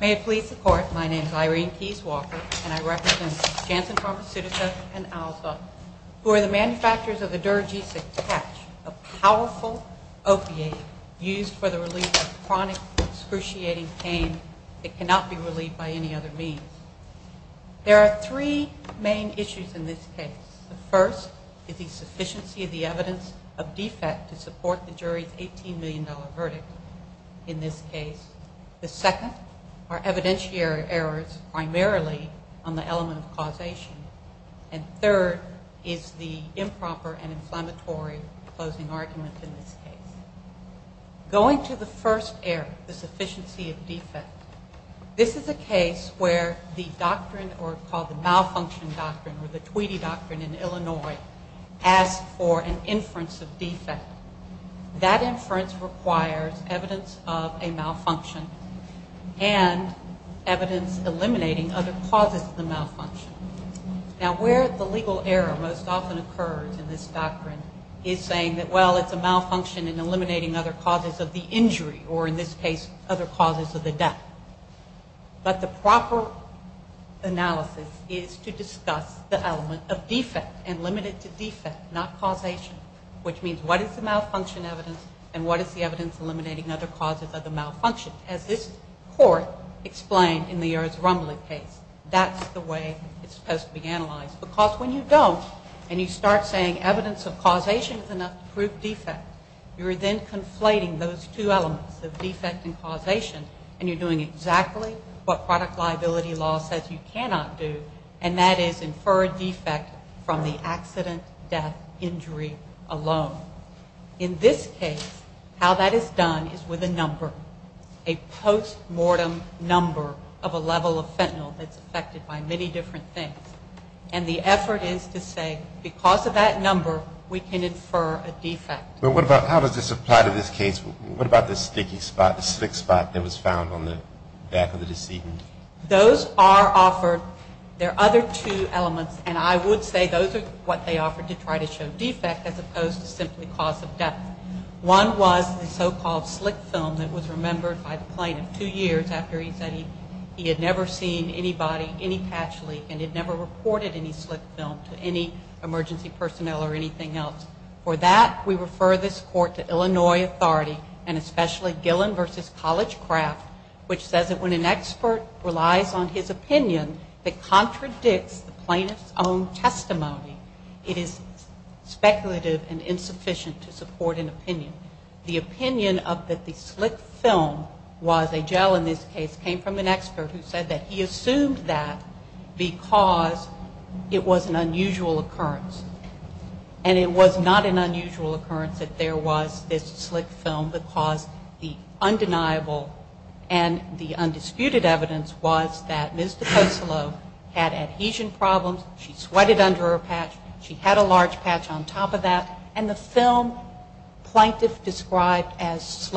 May it please the Court, my name is Irene Keyes Walker and I represent Janssen Pharmaceutica and Alza, who are the manufacturers of the derogesic patch, a powerful opiate used for the relief of chronic, excruciating pain that cannot be relieved by any other means. There are three main issues in this case. The first is the sufficiency of the evidence of defect to support the jury's $18 million verdict in this case. The second are evidentiary errors primarily on the element of causation. And third is the improper and inflammatory closing argument in this case. Going to the first error, the sufficiency of defect, this is a case where the doctrine or called the malfunction doctrine or the Tweedy doctrine in Illinois asks for an inference of defect. That inference requires evidence of a malfunction and evidence eliminating other causes of the malfunction. Now, where the legal error most often occurs in this doctrine is saying that, well, it's a malfunction in eliminating other causes of the injury or in this case other causes of the death. But the proper analysis is to say it's a defect, not causation, which means what is the malfunction evidence and what is the evidence eliminating other causes of the malfunction, as this court explained in the Erzrumbly case. That's the way it's supposed to be analyzed. Because when you don't and you start saying evidence of causation is enough to prove defect, you're then conflating those two elements, the defect and causation, and you're doing exactly what product liability law says you cannot do, and that is infer a defect from the accident, death, injury alone. In this case, how that is done is with a number, a post-mortem number of a level of fentanyl that's affected by many different things. And the effort is to say because of that number, we can infer a defect. But what about how does this apply to this case? What about the sticky spot, the slick spot that was found on the back of the decedent? Those are offered, there are other two elements, and I would say those are what they offered to try to show defect as opposed to simply cause of death. One was the so-called slick film that was remembered by the plaintiff two years after he said he had never seen anybody, any patch leak, and had never reported any slick film to any emergency personnel or anything else. For that, we refer this court to Illinois authority and especially Gillen v. Collegecraft, which says that when an expert relies on his opinion that contradicts the plaintiff's own testimony, it is speculative and insufficient to support an opinion. The opinion of that the slick film was a gel in this case came from an expert who said that he assumed that because it was an unusual occurrence. And it was not an unusual occurrence that there was this slick film because the undeniable and the undisputed evidence was that Ms. DeCosilo had adhesion problems, she sweated under her patch, she had a large patch on top of that, and the film plaintiff described as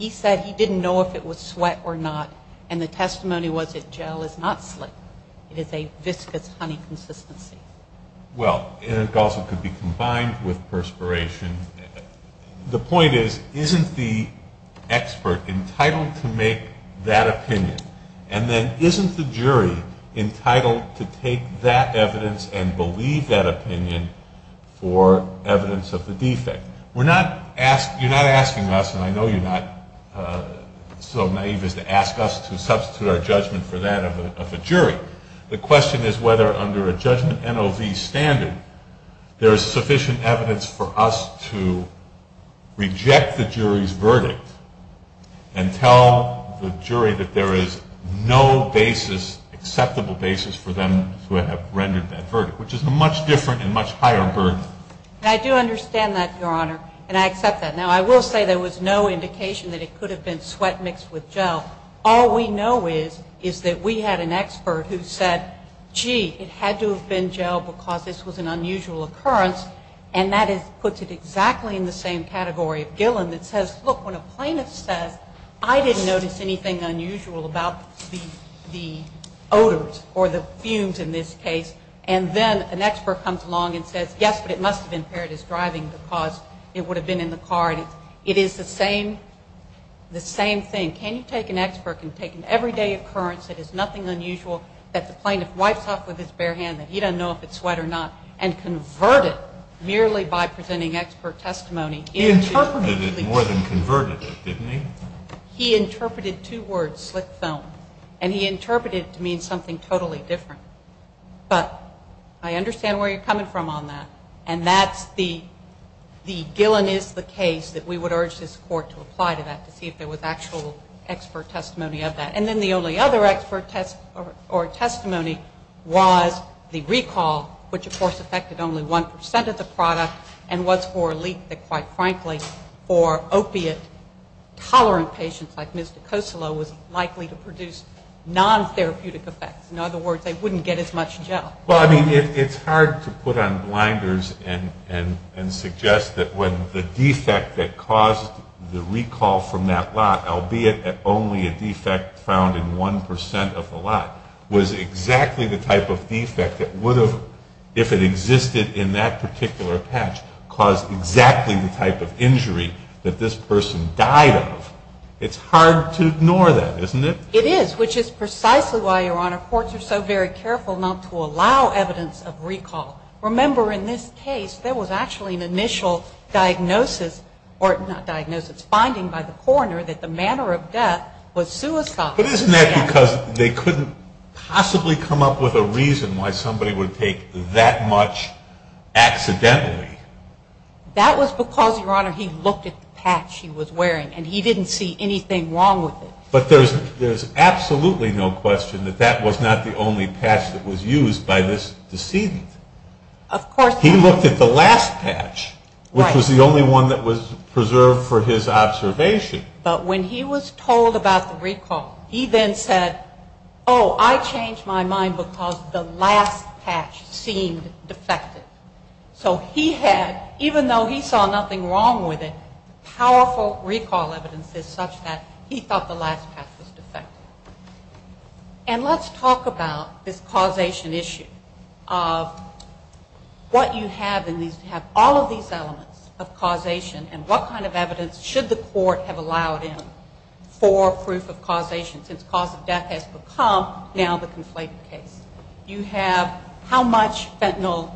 if the testimony was that gel is not slick. It is a viscous honey consistency. Well, it also could be combined with perspiration. The point is, isn't the expert entitled to make that opinion? And then isn't the jury entitled to take that evidence and believe that opinion for evidence of the defect? We're not asking, you're not asking us, and I know you're not so naive as to ask us to substitute our judgment for that of a jury. The question is whether under a judgment NOV standard there is sufficient evidence for us to reject the jury's verdict and tell the jury that there is no basis, acceptable basis for them to have rendered that verdict, which is a much different and much higher burden. And I do understand that, Your Honor, and I accept that. Now, I will say there was no indication that it could have been sweat mixed with gel. All we know is that we had an expert who said, gee, it had to have been gel because this was an unusual occurrence, and that puts it exactly in the same category of Gillen that says, look, when a plaintiff says, I didn't notice anything unusual about the odors or the fumes in this case, and then an expert comes along and says, yes, but it must have been paired as driving because it would have been in the car. It is the same thing. Can you take an expert and take an everyday occurrence that is nothing unusual that the plaintiff wipes off with his bare hand, that he doesn't know if it's sweat or not, and convert it merely by presenting expert testimony? He interpreted it more than converted it, didn't he? He interpreted two words, slick foam, and he interpreted it to mean something totally different. But I understand where you're coming from on that, and that's the Gillen is the case that we would urge this Court to apply to that to see if there was actual expert testimony of that. And then the only other expert test or testimony was the recall, which, of course, affected only 1 percent of the product, and was for a leak that, quite frankly, for opiate tolerant patients like Ms. DiCosolo was likely to produce non-therapeutic effects. In other words, they wouldn't get as much gel. Well, I mean, it's hard to put on blinders and suggest that when the defect that caused the recall from that lot, albeit only a defect found in 1 percent of the lot, was exactly the type of defect that would have, if it existed in that particular patch, caused exactly the type of injury that this person died of. It's hard to ignore that, isn't it? It is, which is precisely why, Your Honor, courts are so very careful not to allow evidence of recall. Remember, in this case, there was actually an initial diagnosis, or not diagnosis, finding by the coroner that the manner of death was suicidal. But isn't that because they couldn't possibly come up with a reason why somebody would take that much accidentally? That was because, Your Honor, he looked at the patch he was wearing, and he didn't see anything wrong with it. But there's absolutely no question that that was not the only patch that was used by this decedent. Of course not. He looked at the last patch, which was the only one that was preserved for his observation. But when he was told about the recall, he then said, oh, I changed my mind because the last patch seemed defective. So he had, even though he saw nothing wrong with it, powerful recall evidence is such that he thought the last patch was defective. And let's talk about this causation issue of what you have in these, all of these elements of causation, and what kind of evidence should the court have allowed in for proof of causation, since cause of death has become now the conflated case. You have how much fentanyl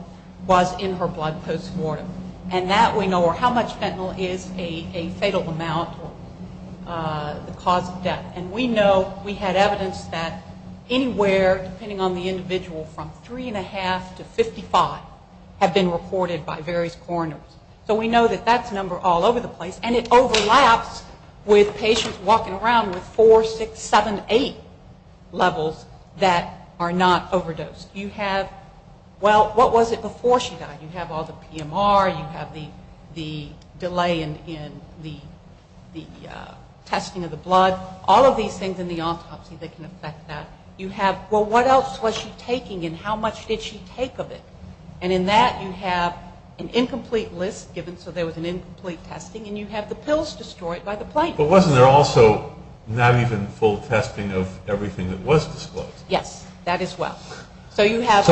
was in her blood post-mortem. And that we know, or how much fentanyl is a fatal amount or the cause of death. And we know, we had evidence that anywhere, depending on the individual, from 3.5 to 55 have been reported by various coroners. So we know that that's number all over the place. And it overlaps with patients walking around with 4, 6, 7, 8 levels that are not overdosed. You have, well, what was it before she died? You have all the PMR, you have the delay in the testing of the blood, all of these things in the autopsy that can affect that. You have, well, what else was she taking and how much did she take of it? And in that you have an incomplete list given, so there was an incomplete testing, and you have the pills destroyed by the plaintiffs. But wasn't there also not even full testing of everything that was disclosed? Yes, that as well. So we have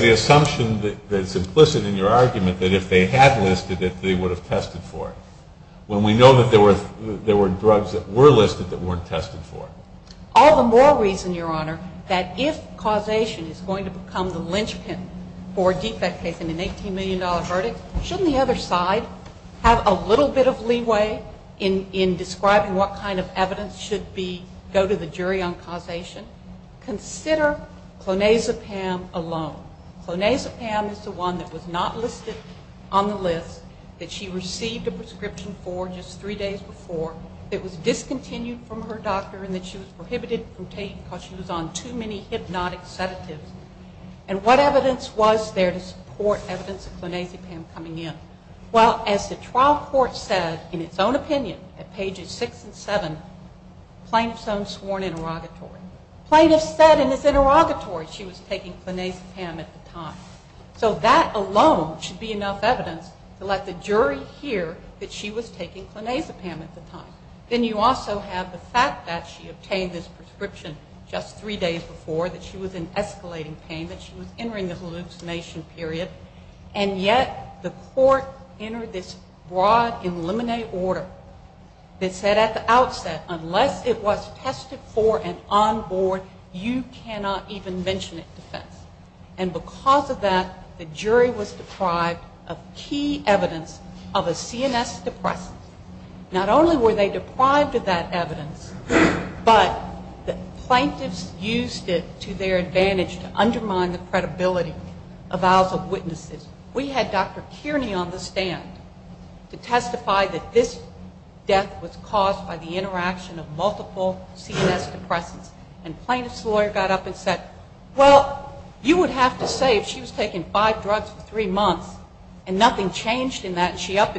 the assumption that's implicit in your argument that if they had listed it, they would have tested for it. When we know that there were drugs that were listed that weren't tested for it. All the more reason, Your Honor, that if causation is going to become the linchpin for a defect case in an $18 million verdict, shouldn't the other side have a little bit of leeway in describing what kind of evidence should go to the jury on causation? Consider clonazepam alone. Clonazepam is the one that was not listed on the list, that she received a prescription for just three days before, that was discontinued from her doctor and that she was prohibited from taking because she was on too many hypnotic sedatives. And what evidence was there to support evidence of clonazepam coming in? Well, as the trial court said in its own opinion at pages six and seven, plaintiff's own sworn interrogatory. Plaintiff said in his interrogatory she was taking clonazepam at the time. So that alone should be enough evidence to let the jury hear that she was taking clonazepam at the time. Then you also have the fact that she obtained this prescription just three days before, that she was in escalating pain, that she was entering the hallucination period, and yet the court entered this broad in limine order that said at the outset, unless it was tested for and on board, you cannot even mention it to defense. And because of that, the jury was deprived of key evidence of a CNS depressant. Not only were they deprived of that evidence, but the plaintiffs used it to their advantage to undermine the credibility of vows of witnesses. We had Dr. Kearney on the stand to testify that this death was caused by the interaction of multiple CNS depressants. And plaintiff's lawyer got up and said, well, you would have to say if she was taking five drugs for three months and nothing changed in that and she up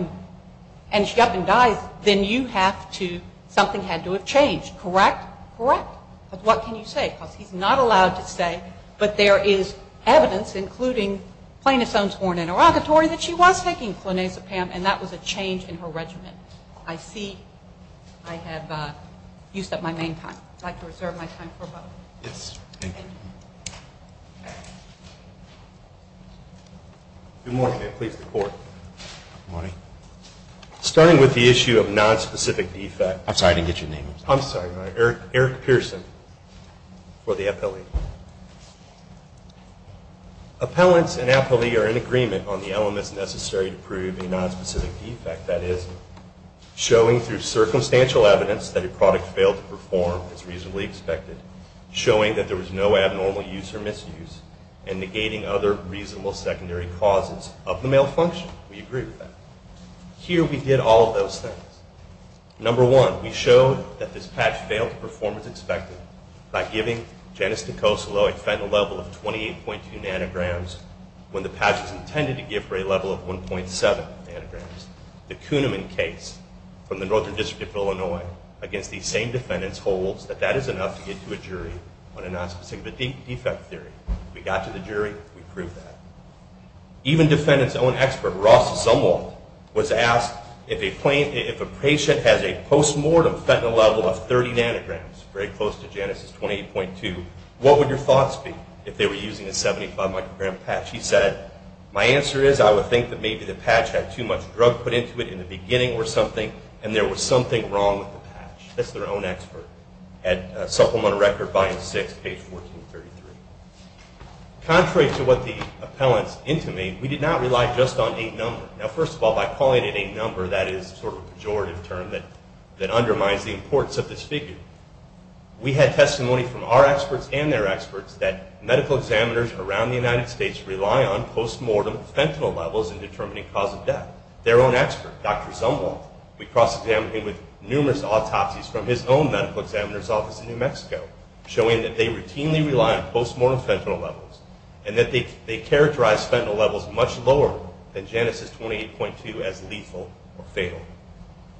and dies, then you have to, something had to have changed, correct? Correct. But what can you say? Because he's not allowed to say, but there is evidence, including plaintiff's own sworn interrogatory, that she was taking clonazepam and that was a change in her regimen. I see I have used up my main time. I'd like to reserve my time for a moment. Yes, thank you. Good morning and please report. Good morning. Starting with the issue of nonspecific defect. I'm sorry, I didn't get your name. I'm sorry, Eric Pearson for the appellate. Appellants and appellee are in agreement on the elements necessary to prove a nonspecific defect, that is, showing through circumstantial evidence that a product failed to perform as reasonably expected, showing that there was no abnormal use or misuse, and negating other reasonable secondary causes of the malfunction. We agree with that. Here we did all of those things. Number one, we showed that this patch failed to perform as expected by giving Janice Nicosolo a fentanyl level of 28.2 nanograms when the patch was intended to give her a level of 1.7 nanograms. The Kuhneman case from the Northern District of Illinois against these same defendants holds that that is enough to get to a jury on a nonspecific defect theory. We got to the jury. We proved that. Even defendant's own expert, Ross Zumwalt, was asked if a patient has a post-mortem fentanyl level of 30 nanograms, very close to Janice's 28.2, what would your thoughts be if they were using a 75-microgram patch? He said, my answer is I would think that maybe the patch had too much drug put into it in the beginning or something, and there was something wrong with the patch. That's their own expert at Supplemental Record, Volume 6, page 1433. Contrary to what the appellants intimated, we did not rely just on a number. Now, first of all, by calling it a number, that is sort of a pejorative term that undermines the importance of this figure. We had testimony from our experts and their experts that medical examiners around the United States rely on post-mortem fentanyl levels in determining cause of death. Their own expert, Dr. Zumwalt, we cross-examined him with numerous autopsies from his own medical examiner's office in New Mexico, showing that they routinely rely on post-mortem fentanyl levels, and that they characterize fentanyl levels much lower than Genesis 28.2 as lethal or fatal.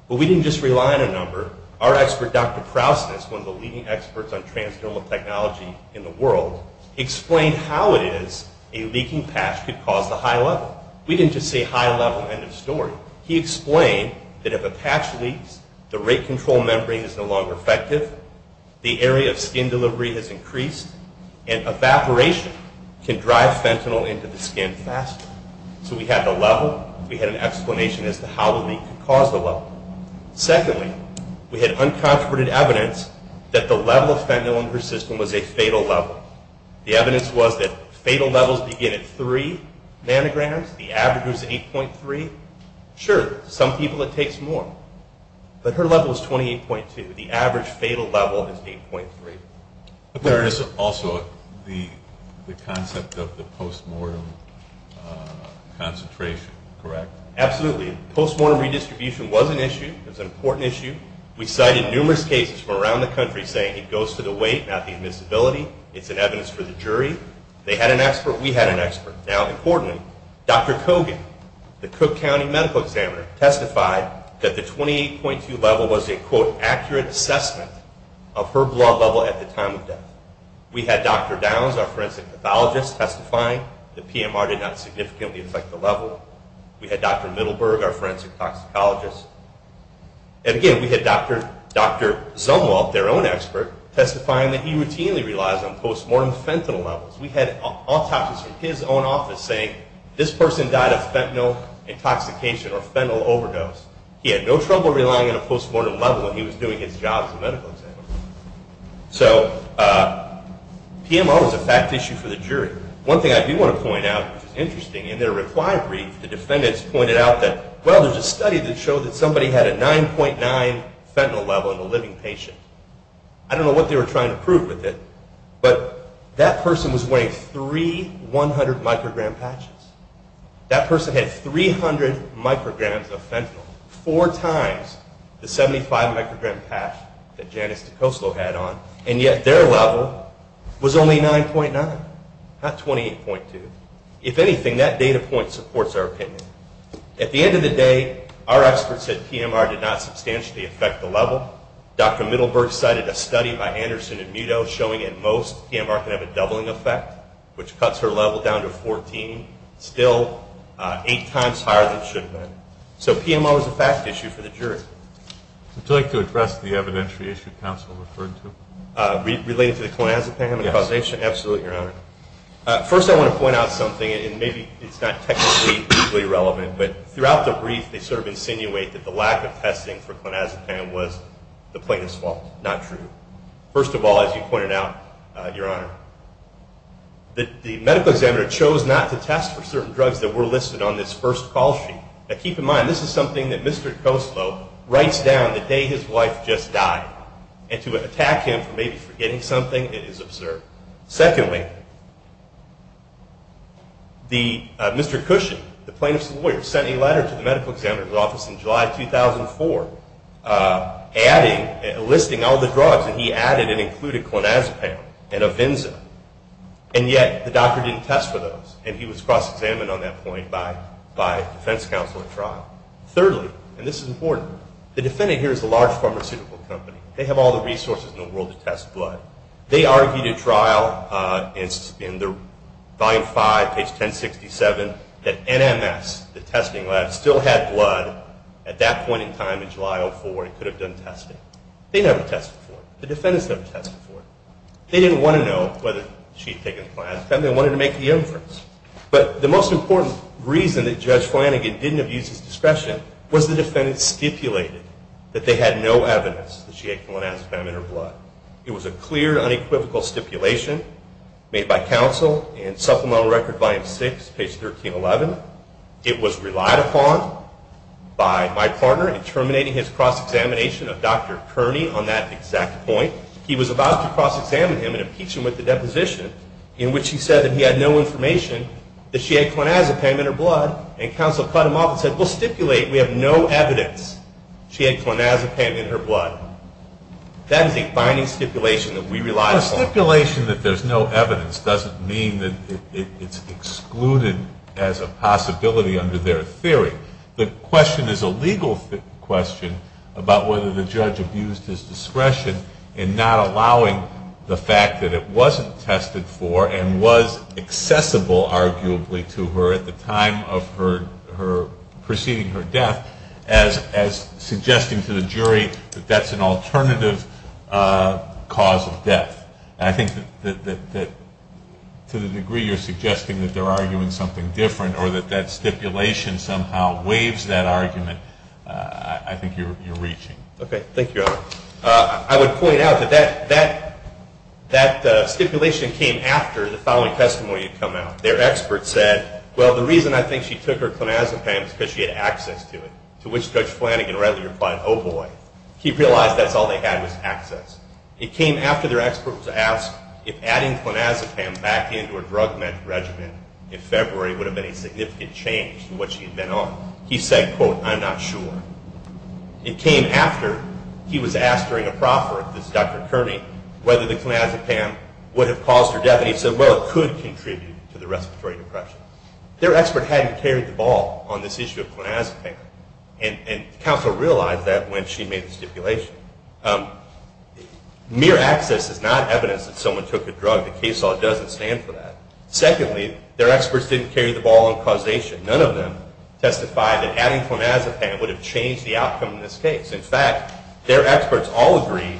But we didn't just rely on a number. Our expert, Dr. Krausness, one of the leading experts on transdermal technology in the world, explained how it is a leaking patch could cause the high level. We didn't just say high level, end of story. He explained that if a patch leaks, the rate control membrane is no longer effective, the area of skin delivery has increased, and evaporation can drive fentanyl into the skin faster. So we had the level, we had an explanation as to how the leak could cause the level. Secondly, we had uncontroverted evidence that the level of fentanyl in her system was a fatal level. The evidence was that fatal levels begin at 3 nanograms. The average was 8.3. Sure, to some people it takes more, but her level is 28.2. The average fatal level is 8.3. There is also the concept of the post-mortem concentration, correct? Absolutely. Post-mortem redistribution was an issue. It was an important issue. We cited numerous cases from around the country saying it goes to the weight, not the admissibility. It's an evidence for the jury. They had an expert, we had an expert. Now, importantly, Dr. Kogan, the Cook County medical examiner, testified that the 28.2 level was a quote, accurate assessment of her blood level at the time of death. We had Dr. Downs, our forensic pathologist, testifying that PMR did not significantly affect the level. We had Dr. Middleburg, our forensic toxicologist. And again, we had Dr. Zumwalt, their own expert, testifying that he routinely relies on post-mortem fentanyl levels. We had autopsies from his own office saying, this person died of fentanyl intoxication or fentanyl overdose. He had no trouble relying on a post-mortem level when he was doing his job as a medical examiner. So PMR was a fact issue for the jury. One thing I do want to point out, which is interesting, in their reply brief, the defendants pointed out that, well, there's a study that showed that somebody had a 9.9 fentanyl level in a living patient. I don't know what they were trying to prove with it, but that person was wearing three 100-microgram patches. That person had 300 micrograms of fentanyl, four times the 75-microgram patch that Janice DiCosto had on, and yet their level was only 9.9, not 28.2. If anything, that data point supports our opinion. At the end of the day, our experts said PMR did not substantially affect the level. Dr. Middleburg cited a study by Anderson and Muto showing, at most, PMR can have a doubling effect, which cuts her level down to 14, still eight times higher than it should have been. So PMR was a fact issue for the jury. Would you like to address the evidentiary issue counsel referred to? Related to the clonazepam and causation? Absolutely, Your Honor. First, I want to point out something, and maybe it's not technically equally relevant, but throughout the brief they sort of insinuate that the medical examiner chose not to test for certain drugs that were listed on this first call sheet. Now keep in mind, this is something that Mr. DiCosto writes down the day his wife just died, and to attack him for maybe forgetting something, it is absurd. Secondly, Mr. Cushon, the plaintiff's lawyer, sent a letter to the medical examiner's office in July 2004 listing all the drugs, and he added and included clonazepam and Avenza, and yet the doctor didn't test for those, and he was cross-examined on that point by defense counsel at trial. Thirdly, and this is important, the defendant here is a large pharmaceutical company. They have all the resources in the world to test blood. They argued at trial, in Volume 5, page 1067, that NMS, the testing lab, still had blood at that point in time in July 2004 and could have done testing. They never tested for it. The defendants never tested for it. They didn't want to know whether she had taken clonazepam. They wanted to make the inference. But the most important reason that Judge Flanagan didn't have used his discretion was the defendants stipulated that they had no evidence that she had clonazepam in her blood. It was a clear, unequivocal stipulation made by counsel in Supplemental Record, Volume 6, page 1311. It was relied upon by my partner in terminating his cross-examination of Dr. Kearney on that exact point. He was about to cross-examine him and impeach him with a deposition in which he said that he had no information that she had clonazepam in her blood, and counsel cut him off and said, we'll stipulate we have no evidence she had clonazepam in her blood. That is a binding stipulation that we relied upon. A stipulation that there's no evidence doesn't mean that it's excluded as a possibility under their theory. The question is a legal question about whether the judge abused his discretion in not allowing the fact that it wasn't tested for and was accessible, arguably, to her at the time of her, preceding her death as suggesting to the jury that that's an alternative cause of death. And I think that to the degree you're suggesting that they're arguing something different or that that stipulation somehow waives that argument, I think you're reaching. Okay. Thank you, Al. I would point out that that stipulation came after the following testimony had come out. Their expert said, well, the reason I think she took her clonazepam was because she had access to it, to which Judge Flanagan readily replied, oh, boy. He realized that's all they had was access. It came after their expert was asked if adding clonazepam back into her drug med regimen in February would have been a significant change to what she had been on. He said, quote, I'm not sure. It came after he was asked that and he said, well, it could contribute to the respiratory depression. Their expert hadn't carried the ball on this issue of clonazepam, and counsel realized that when she made the stipulation. Mere access is not evidence that someone took a drug. The case law doesn't stand for that. Secondly, their experts didn't carry the ball on causation. None of them testified that adding clonazepam would have changed the outcome of this case. In fact, their own experts agreed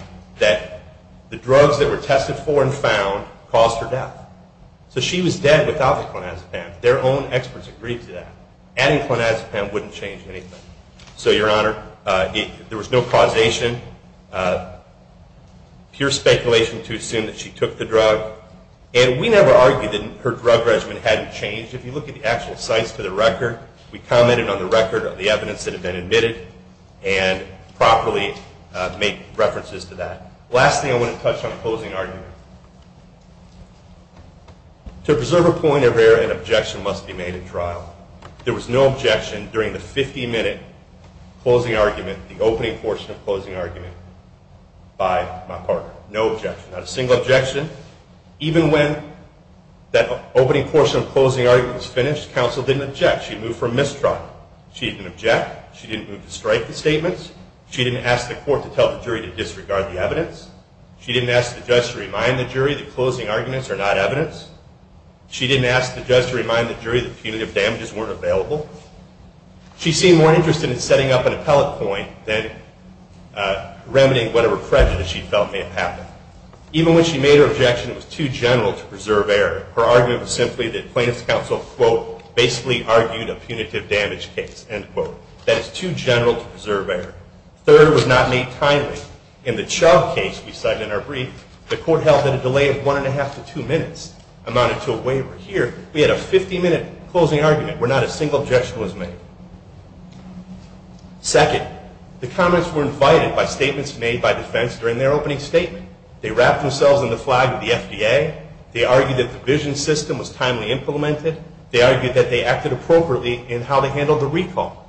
to that. Adding clonazepam wouldn't change anything. So, Your Honor, there was no causation. Pure speculation to assume that she took the drug. And we never argued that her drug regimen hadn't changed. If you look at the actual sites for the record, we commented on the record of the evidence that had been admitted and properly make references to that. Last thing I want to touch on, closing argument. To preserve a point of error, an objection must be made at trial. There was no objection during the 50-minute closing argument, the opening portion of closing argument, by my partner. No objection. Not a single objection. Even when that opening portion of closing argument was finished, counsel didn't object. She didn't move to strike the statements. She didn't ask the court to tell the jury to disregard the evidence. She didn't ask the judge to remind the jury that closing arguments are not evidence. She didn't ask the judge to remind the jury that punitive damages weren't available. She seemed more interested in setting up an appellate point than remedying whatever prejudice she felt may have happened. Even when she made her objection, it was too general to preserve error. Her argument was simply that punitive damage case, end quote. That it's too general to preserve error. Third, it was not made timely. In the Chau case we cited in our brief, the court held that a delay of one and a half to two minutes amounted to a waiver. Here, we had a 50-minute closing argument where not a single objection was made. Second, the comments were invited by statements made by defense during their opening statement. They wrapped themselves in the flag of the FDA. They argued that the vision system was timely implemented. They argued that they acted appropriately in how they handled the recall.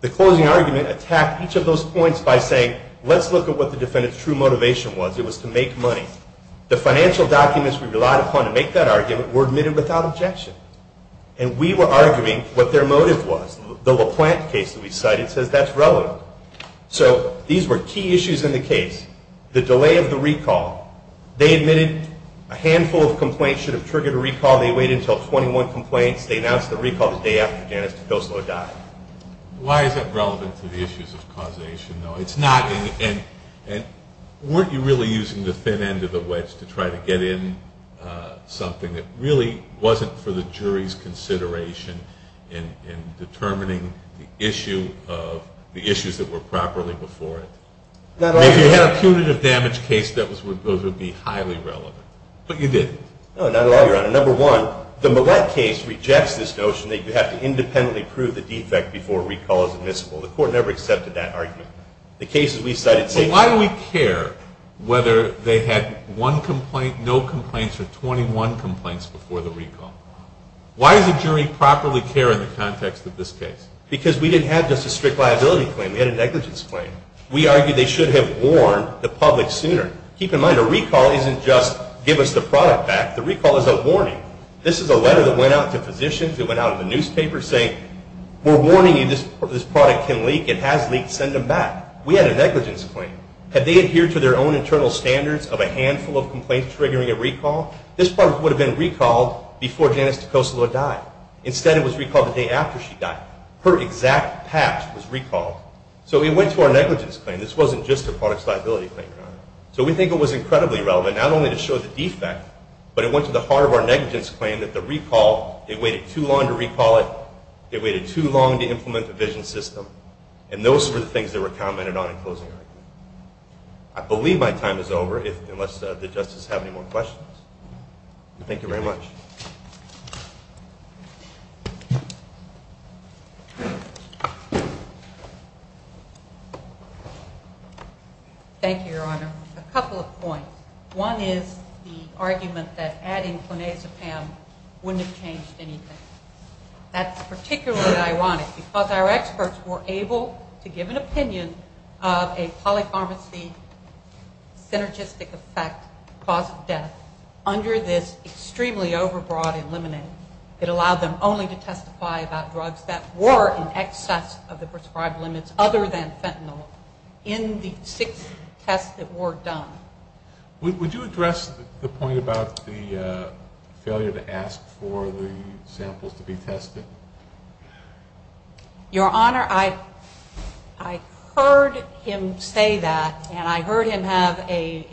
The closing argument attacked each of those points by saying, let's look at what the defendant's true motivation was. It was to make money. The financial documents we relied upon to make that argument were admitted without objection. And we were arguing what their motive was. The LaPlante case that we cited says that's relevant. So, these were key issues in the case. The delay of the recall. They admitted a handful of complaints should have triggered a recall. They waited until 21 complaints. They announced the recall the day after Janice DePilso died. Why is that relevant to the issues of causation, though? It's not. And weren't you really using the thin end of the wedge to try to get in something that really wasn't for the jury's consideration in determining the issues that were properly before it? If you had a punitive damage case, those would be highly relevant. But you didn't. No, not at all, Your Honor. Number one, the Millett case rejects this notion that you have to independently prove the defect before a recall is admissible. The court never accepted that argument. The cases we cited say... But why do we care whether they had one complaint, no complaints, or 21 complaints before the recall? Why does the jury properly care in the context of this case? Because we didn't have just a strict liability claim. We had a negligence claim. We argued they should have warned the public sooner. Keep in mind, a recall isn't just give us the product back. The recall is a warning. This is a letter that went out to physicians. It went out to the newspapers saying, we're warning you. This product can leak. It has leaked. Send them back. We had a negligence claim. Had they adhered to their own internal standards of a handful of complaints triggering a recall, this product would have been recalled before Janice DeCosalo died. Instead, it was recalled the day after she died. Her exact past was recalled. So it went to our negligence claim. This wasn't just a product's liability claim, Your Honor. So we think it was incredibly relevant, not only to show the defect, but it went to the heart of our negligence claim that the recall, it waited too long to recall it. It waited too long to implement the vision system. And those were the things that were commented on in closing argument. I believe my time is over, unless the justices have any more questions. Thank you very much. Thank you, Your Honor. A couple of points. One is the argument that adding clonazepam wouldn't have changed anything. That's particularly ironic, because our experts were able to give an opinion of a polypharmacy synergistic effect, cause of death, under this extremely over-reliant drug. It allowed them only to testify about drugs that were in excess of the prescribed limits, other than fentanyl, in the six tests that were done. Would you address the point about the failure to ask for the samples to be tested? Your Honor, I heard him say that, and I heard him have a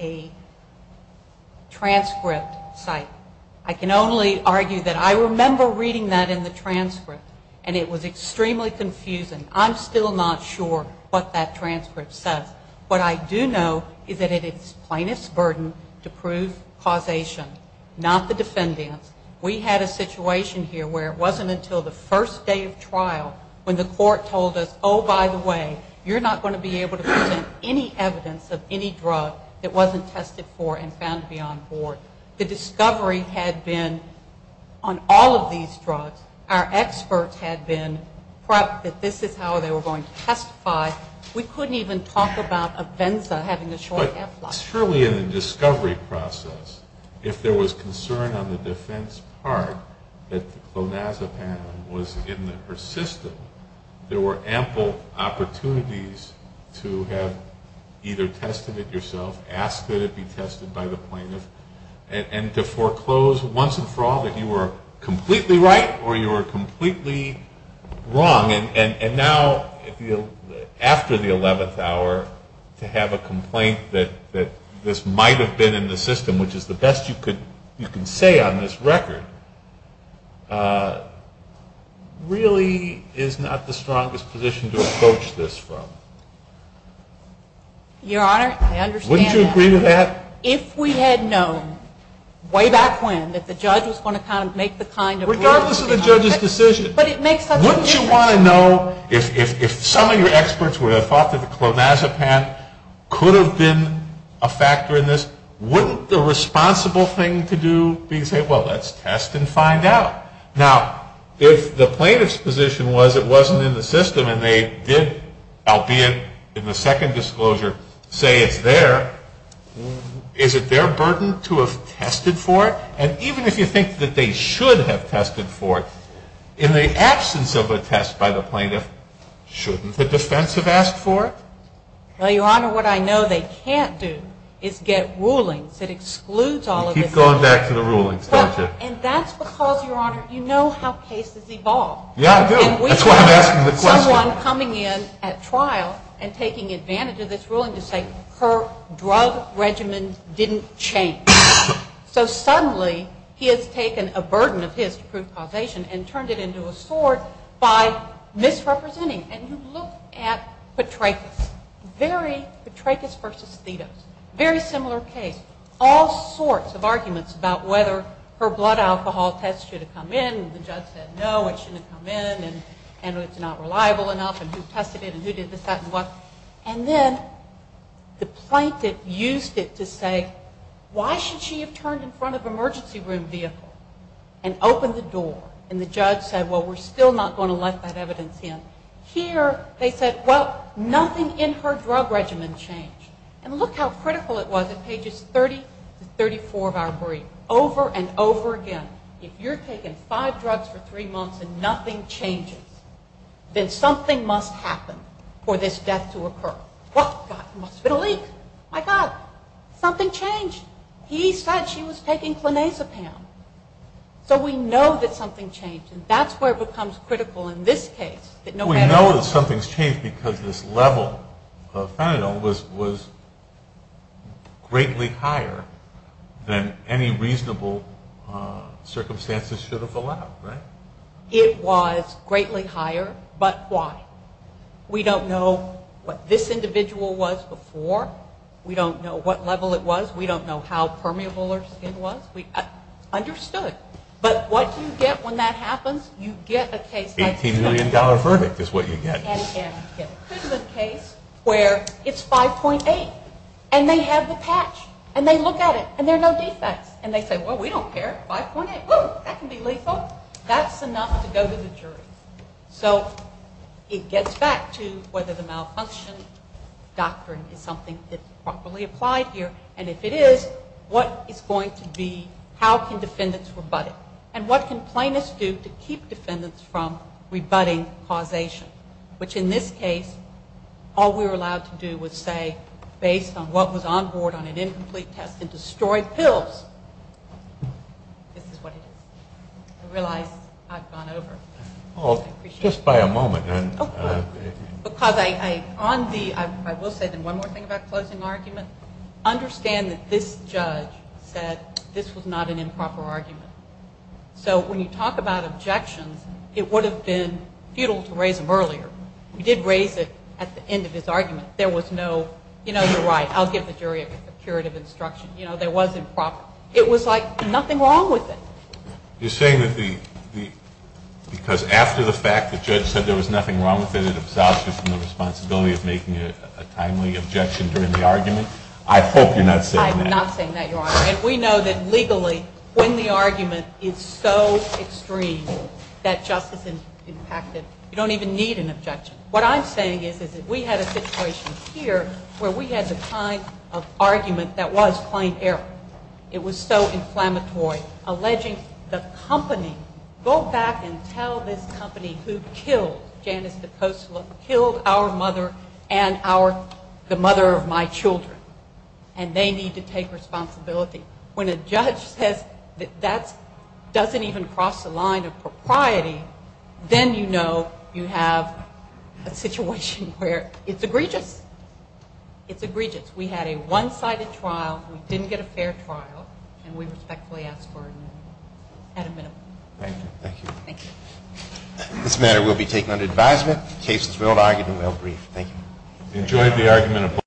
really argue that. I remember reading that in the transcript, and it was extremely confusing. I'm still not sure what that transcript says. What I do know is that it is plaintiff's burden to prove causation, not the defendant's. We had a situation here where it wasn't until the first day of trial when the court told us, oh, by the way, you're not going to be able to present any evidence of any drug that wasn't tested for and found to be on board. The discovery had been on all of these drugs, our experts had been prepped that this is how they were going to testify. We couldn't even talk about Avenza having a short half-life. But surely in the discovery process, if there was concern on the defense part that the clonazepam was in the persistent, there were ample opportunities to have either tested it yourself, ask that it be tested by the plaintiff, and to foreclose once and for all that you were completely right or you were completely wrong. And now after the 11th hour, to have a complaint that this might have been in the system, which is the best you can say on this record, really is not the strongest position to approach this from. Your Honor, I understand. Wouldn't you agree to that? If we had known way back when that the judge was going to kind of make the kind of rule. Regardless of the judge's decision. But it makes such a difference. Wouldn't you want to know if some of your experts would have thought that the clonazepam could have been a factor in this? Wouldn't the responsible thing to do be to say, well, let's test and find out. Now, if the plaintiff's position was it wasn't in the system and they did, albeit in the second disclosure, say it's there, is it their burden to have tested for it? And even if you think that they should have tested for it, in the absence of a test by the plaintiff, shouldn't the defense have asked for it? Well, Your Honor, what I know they can't do is get rulings that excludes all of this. You keep going back to the rulings, don't you? And that's because, Your Honor, you know how cases evolve. Yeah, I do. That's why I'm asking the question. Someone coming in at trial and taking advantage of this ruling to say her drug regimen didn't change. So suddenly he has taken a burden of his to prove causation and turned it into a sword by misrepresenting. And you look at Petrakis. Very Petrakis versus Thedos. Very similar case. All sorts of arguments about whether her blood alcohol test should have come in, and the judge said no, it shouldn't have come in, and it's not reliable enough, and who tested it, and who did this, that, and what. And then the plaintiff used it to say, why should she have turned in front of emergency room vehicle and opened the door, and the judge said, well, we're still not going to let that evidence in. Here they said, well, nothing in her drug regimen changed. And look how critical it was at pages 30 to 34 of our brief, over and over again. If you're taking five drugs for three months and nothing changes, then something must happen for this death to occur. What? It must have been a leak. My God. Something changed. He said she was taking clonazepam. So we know that something changed, and that's where it becomes critical in this case. We know that something's changed because this level of fentanyl was greatly higher than any reasonable circumstances should have allowed, right? It was greatly higher, but why? We don't know what this individual was before. We don't know what level it was. We don't know how permeable her skin was. We understood. But what you get when that happens, you get a case like this. $18 million verdict is what you get. You get a criminal case where it's 5.8, and they have the patch, and they look at it, and there are no defects. And they say, well, we don't care. 5.8, that can be lethal. That's enough to go to the jury. So it gets back to whether the malfunction doctrine is something that's properly applied here, and if it is, what is going to be, how can defendants rebut it? And what can plaintiffs do to keep defendants from rebutting causation? Which in this case, all we were allowed to do was say, based on what was on board on an incomplete test and destroyed pills, this is what it is. I realize I've gone over. I will say one more thing about closing argument. Understand that this judge said this was not an improper argument. So when you talk about objections, it would have been futile to raise them earlier. You did raise it at the end of his argument. There was no, you know, you're right, I'll give the jury a curative instruction. There was improper. It was like nothing wrong with it. You're saying that because after the fact, the judge said there was nothing wrong with it, it absolves you from the responsibility of making a timely objection during the argument? I hope you're not saying that. And we know that legally, when the argument is so extreme that justice is impacted, you don't even need an objection. What I'm saying is that we had a situation here where we had the kind of argument that was plain error. It was so inflammatory, alleging the company, go back and tell this company who killed Janice DeCosla, killed our mother and the mother of my children. And they need to take responsibility. When a judge says that that doesn't even cross the line of propriety, then you know you have a situation where it's egregious. It's egregious. We had a one-sided trial. We didn't get a fair trial. And we respectfully ask for an amendment. Thank you.